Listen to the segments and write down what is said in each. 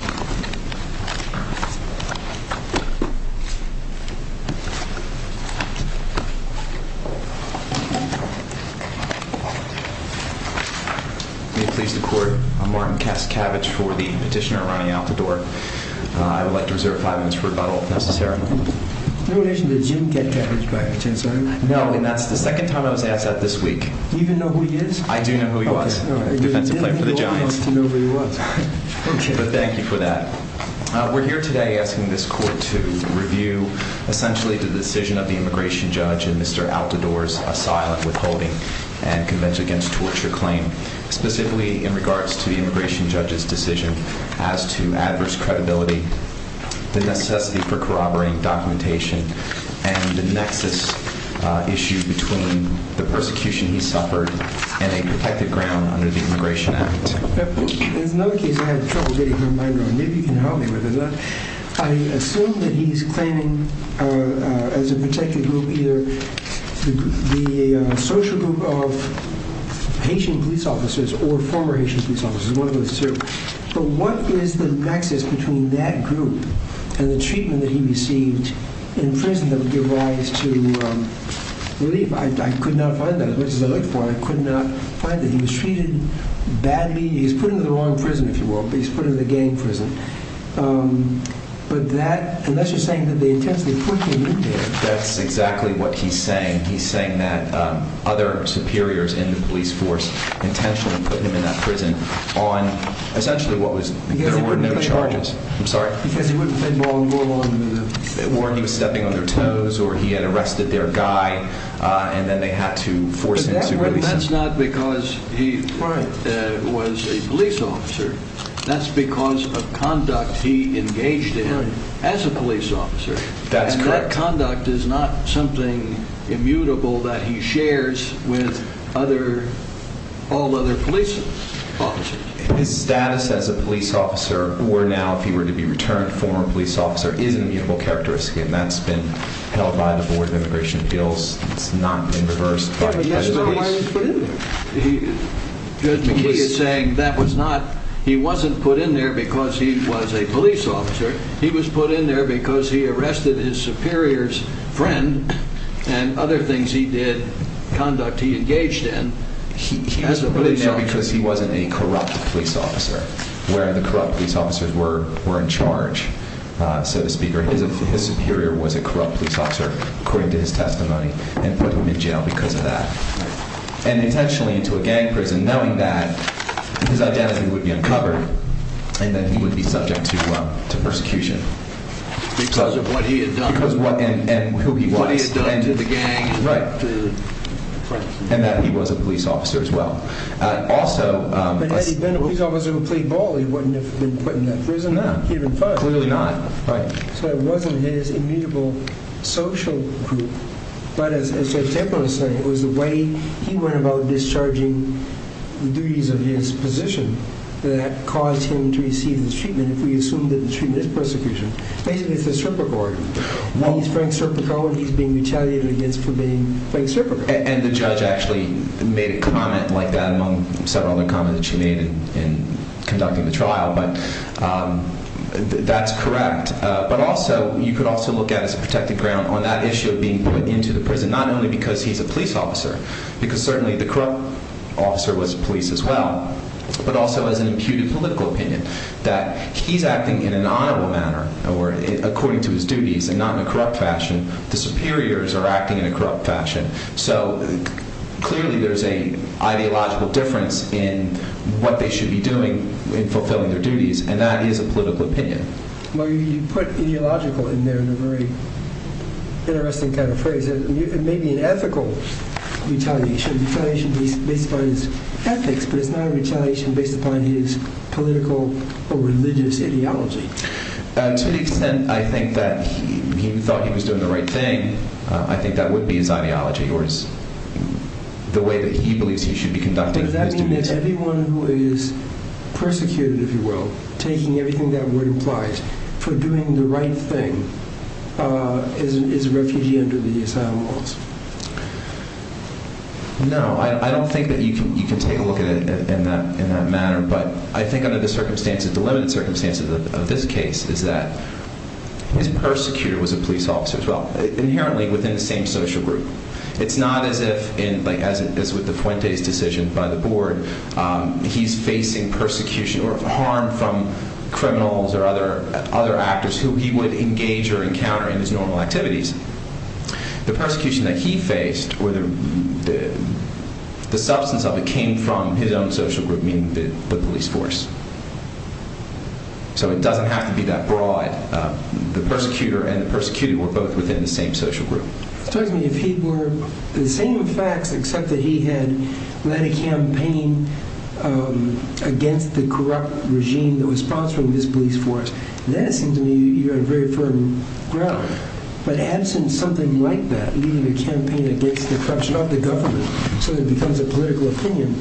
May it please the Court, I'm Martin Kastkavich for the Petitioner Ronnie Altidor. I would like to reserve five minutes for rebuttal, if necessary. In relation to Jim Kastkavich, by any chance, are you? No, and that's the second time I was asked that this week. Do you even know who he is? I do know who he was. Okay, all right. Defensive player for the Giants. But thank you for that. We're here today asking this Court to review, essentially, the decision of the immigration judge and Mr. Altidor's asylum withholding and Convention Against Torture claim. Specifically, in regards to the immigration judge's decision as to adverse credibility, the necessity for corroborating documentation, and the nexus issue between the persecution he suffered and a protected ground under the Immigration Act. There's another case I have trouble getting my mind around. Maybe you can help me with it. I assume that he's claiming, as a protected group, either the social group of Haitian police officers or former Haitian police officers, one of those two. But what is the nexus between that group and the treatment that he received in prison that would give rise to relief? I could not find that, as much as I looked for it. I could not find that. He was treated badly. He was put into the wrong prison, if you will. But he was put in the gang prison. But that, unless you're saying that they intentionally put him in there. That's exactly what he's saying. He's saying that other superiors in the police force intentionally put him in that prison on, essentially, what was, there were no charges. Because he wouldn't play ball and go along with it. Or he was stepping on their toes, or he had arrested their guy, and then they had to force him to release him. But that's not because he was a police officer. That's because of conduct he engaged in as a police officer. That's correct. And that conduct is not something immutable that he shares with other, all other police officers. His status as a police officer, or now, if he were to be returned former police officer, is an immutable characteristic. And that's been held by the Board of Immigration Bills. It's not been reversed by the police. Judge McKee is saying that was not, he wasn't put in there because he was a police officer. He was put in there because he arrested his superior's friend and other things he did, conduct he engaged in. He was put in there because he wasn't a corrupt police officer, where the corrupt police officers were in charge, so to speak. Or his superior was a corrupt police officer, according to his testimony, and put him in jail because of that. And intentionally into a gang prison, knowing that his identity would be uncovered, and that he would be subject to persecution. Because of what he had done. Because what, and who he was. What he had done to the gang. Right. And that he was a police officer as well. Also... But had he been a police officer who played ball, he wouldn't have been put in that prison. No. Clearly not. Right. So it wasn't his immutable social group. But as Judge Templin was saying, it was the way he went about discharging the duties of his position that caused him to receive this treatment. If we assume that the treatment is persecution. Basically it's a circumcord. He's Frank Cirpico and he's being retaliated against for being Frank Cirpico. And the judge actually made a comment like that among several other comments that she made in conducting the trial. But that's correct. But also, you could also look at as a protected ground on that issue of being put into the prison. Not only because he's a police officer. Because certainly the corrupt officer was police as well. But also as an imputed political opinion. That he's acting in an honorable manner or according to his duties and not in a corrupt fashion. The superiors are acting in a corrupt fashion. So clearly there's an ideological difference in what they should be doing in fulfilling their duties. And that is a political opinion. Well, you put ideological in there in a very interesting kind of phrase. It may be an ethical retaliation. It's a retaliation based upon his ethics. But it's not a retaliation based upon his political or religious ideology. To the extent I think that he thought he was doing the right thing. I think that would be his ideology. Or the way that he believes he should be conducting his duties. But does that mean that everyone who is persecuted, if you will. Taking everything that word implies. For doing the right thing. Is a refugee under the asylum laws. No, I don't think that you can take a look at it in that manner. But I think under the circumstances, the limited circumstances of this case. Is that his persecutor was a police officer as well. Inherently within the same social group. It's not as if, as with the Fuentes decision by the board. He's facing persecution or harm from criminals or other actors. Who he would engage or encounter in his normal activities. The persecution that he faced, or the substance of it. Came from his own social group, meaning the police force. So it doesn't have to be that broad. The persecutor and the persecuted were both within the same social group. It tells me if he were the same facts. Except that he had led a campaign against the corrupt regime. That was sponsoring his police force. Then it seems to me you're on very firm ground. But absent something like that, leading a campaign against the corruption of the government. So it becomes a political opinion.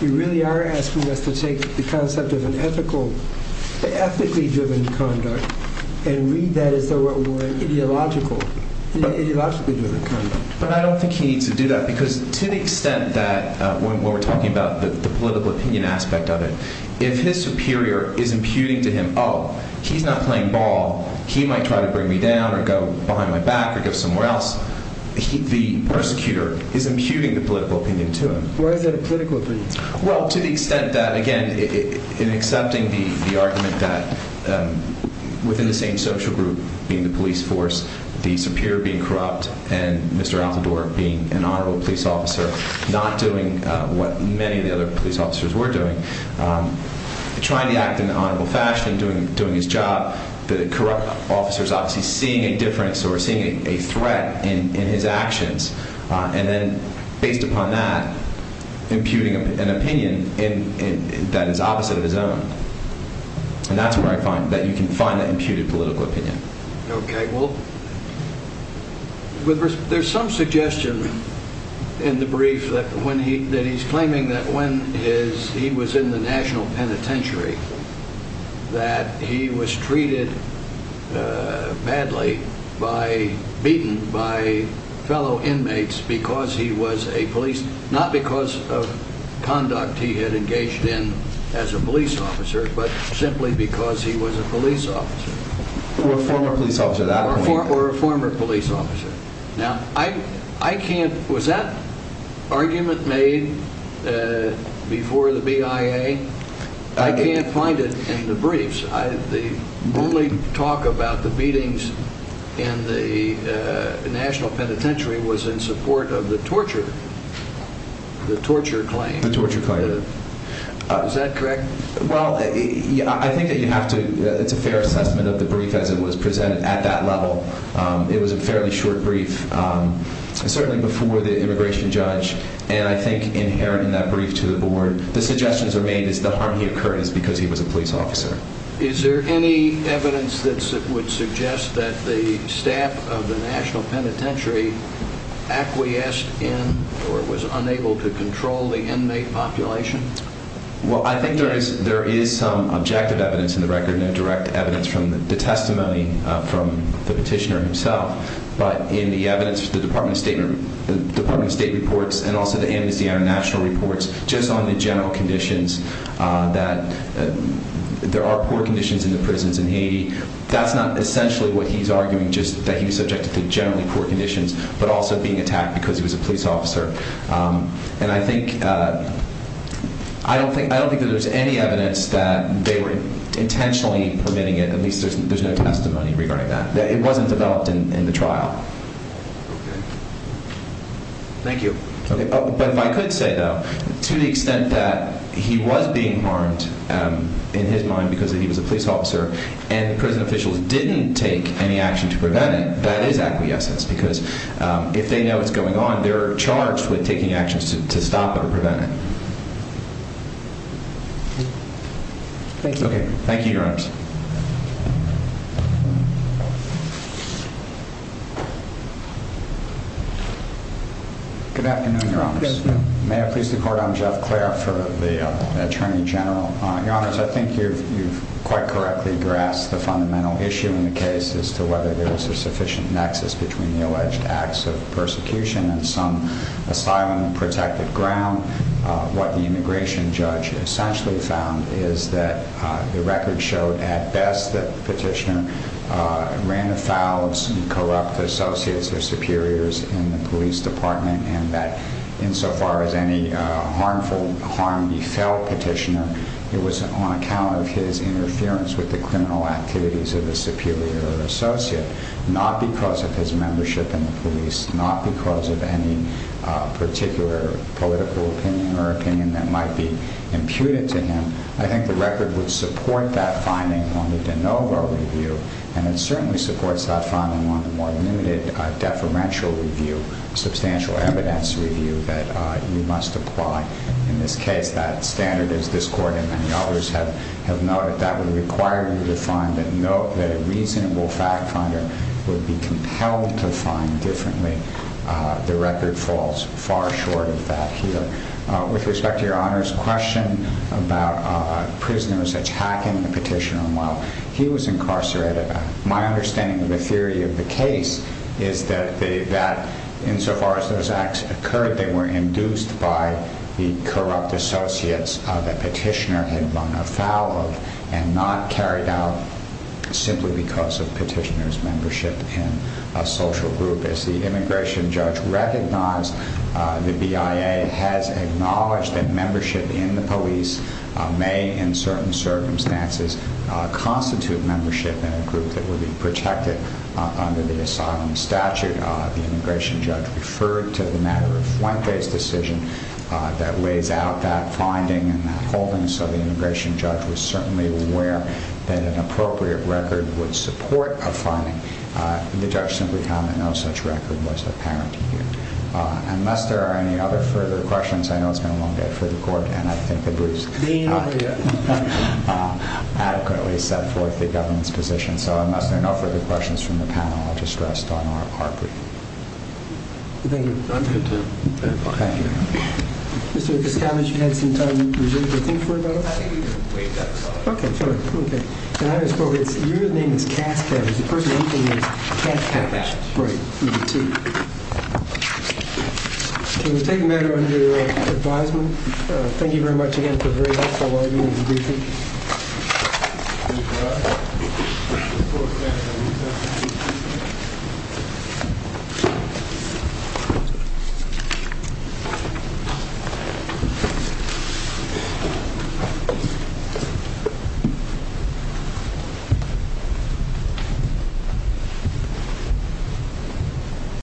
You really are asking us to take the concept of an ethically driven conduct. And read that as though it were an ideologically driven conduct. But I don't think he needs to do that. Because to the extent that when we're talking about the political opinion aspect of it. If his superior is imputing to him. Oh, he's not playing ball. He might try to bring me down, or go behind my back, or go somewhere else. The persecutor is imputing the political opinion to him. Why is that a political opinion? Well, to the extent that, again, in accepting the argument that within the same social group. Being the police force, the superior being corrupt. And Mr. Altador being an honorable police officer. Not doing what many of the other police officers were doing. Trying to act in an honorable fashion, doing his job. The corrupt officer is obviously seeing a difference or seeing a threat in his actions. And then based upon that, imputing an opinion that is opposite of his own. And that's where I find, that you can find that imputed political opinion. Okay, well, there's some suggestion in the brief. That he's claiming that when he was in the national penitentiary. That he was treated badly, beaten by fellow inmates. Because he was a police, not because of conduct he had engaged in as a police officer. But simply because he was a police officer. Or a former police officer. Or a former police officer. Now, I can't, was that argument made before the BIA? I can't find it in the briefs. The only talk about the beatings in the national penitentiary was in support of the torture. The torture claim. The torture claim. Is that correct? Well, I think that you have to, it's a fair assessment of the brief as it was presented at that level. It was a fairly short brief. Certainly before the immigration judge. And I think inherent in that brief to the board. The suggestions are made is the harm he occurred is because he was a police officer. Is there any evidence that would suggest that the staff of the national penitentiary. Acquiesced in or was unable to control the inmate population? Well, I think there is some objective evidence in the record. No direct evidence from the testimony from the petitioner himself. But in the evidence the Department of State reports. And also the Amnesty International reports. Just on the general conditions that there are poor conditions in the prisons in Haiti. That's not essentially what he's arguing. Just that he was subjected to generally poor conditions. But also being attacked because he was a police officer. And I think, I don't think that there's any evidence that they were intentionally permitting it. At least there's no testimony regarding that. It wasn't developed in the trial. Okay. Thank you. Okay. But if I could say though. To the extent that he was being harmed in his mind because he was a police officer. And the prison officials didn't take any action to prevent it. That is acquiescence. Because if they know what's going on. They're charged with taking actions to stop it or prevent it. Thank you. Okay. Thank you, your honors. Good afternoon, your honors. May I please the court. I'm Jeff Clare for the attorney general. Your honors, I think you've quite correctly grasped the fundamental issue in the case. As to whether there was a sufficient nexus between the alleged acts of persecution. And some asylum and protected ground. What the immigration judge essentially found is that the record showed. That petitioner ran afoul of some corrupt associates or superiors in the police department. And that insofar as any harmful harm he felt petitioner. It was on account of his interference with the criminal activities of the superior or associate. Not because of his membership in the police. Not because of any particular political opinion or opinion that might be imputed to him. I think the record would support that finding on the de novo review. And it certainly supports that finding on the more limited deferential review. Substantial evidence review that you must apply in this case. That standard is this court and many others have noted. That would require you to find and note that a reasonable fact finder would be compelled to find differently. The record falls far short of that here. With respect to your honor's question about prisoners attacking the petitioner. While he was incarcerated. My understanding of the theory of the case is that insofar as those acts occurred. They were induced by the corrupt associates that petitioner had run afoul of. And not carried out simply because of petitioner's membership in a social group. As the immigration judge recognized the BIA has acknowledged that membership in the police. May in certain circumstances constitute membership in a group that would be protected under the asylum statute. The immigration judge referred to the matter of Fuente's decision. That lays out that finding and that holding. So the immigration judge was certainly aware that an appropriate record would support a finding. The judge simply found that no such record was apparent. Unless there are any other further questions. I know it's been a long day for the court. And I think the briefs adequately set forth the government's position. So unless there are no further questions from the panel. I'll just rest on our part. Thank you. Thank you. Mr. Thank you. Thank you very much. Thank you.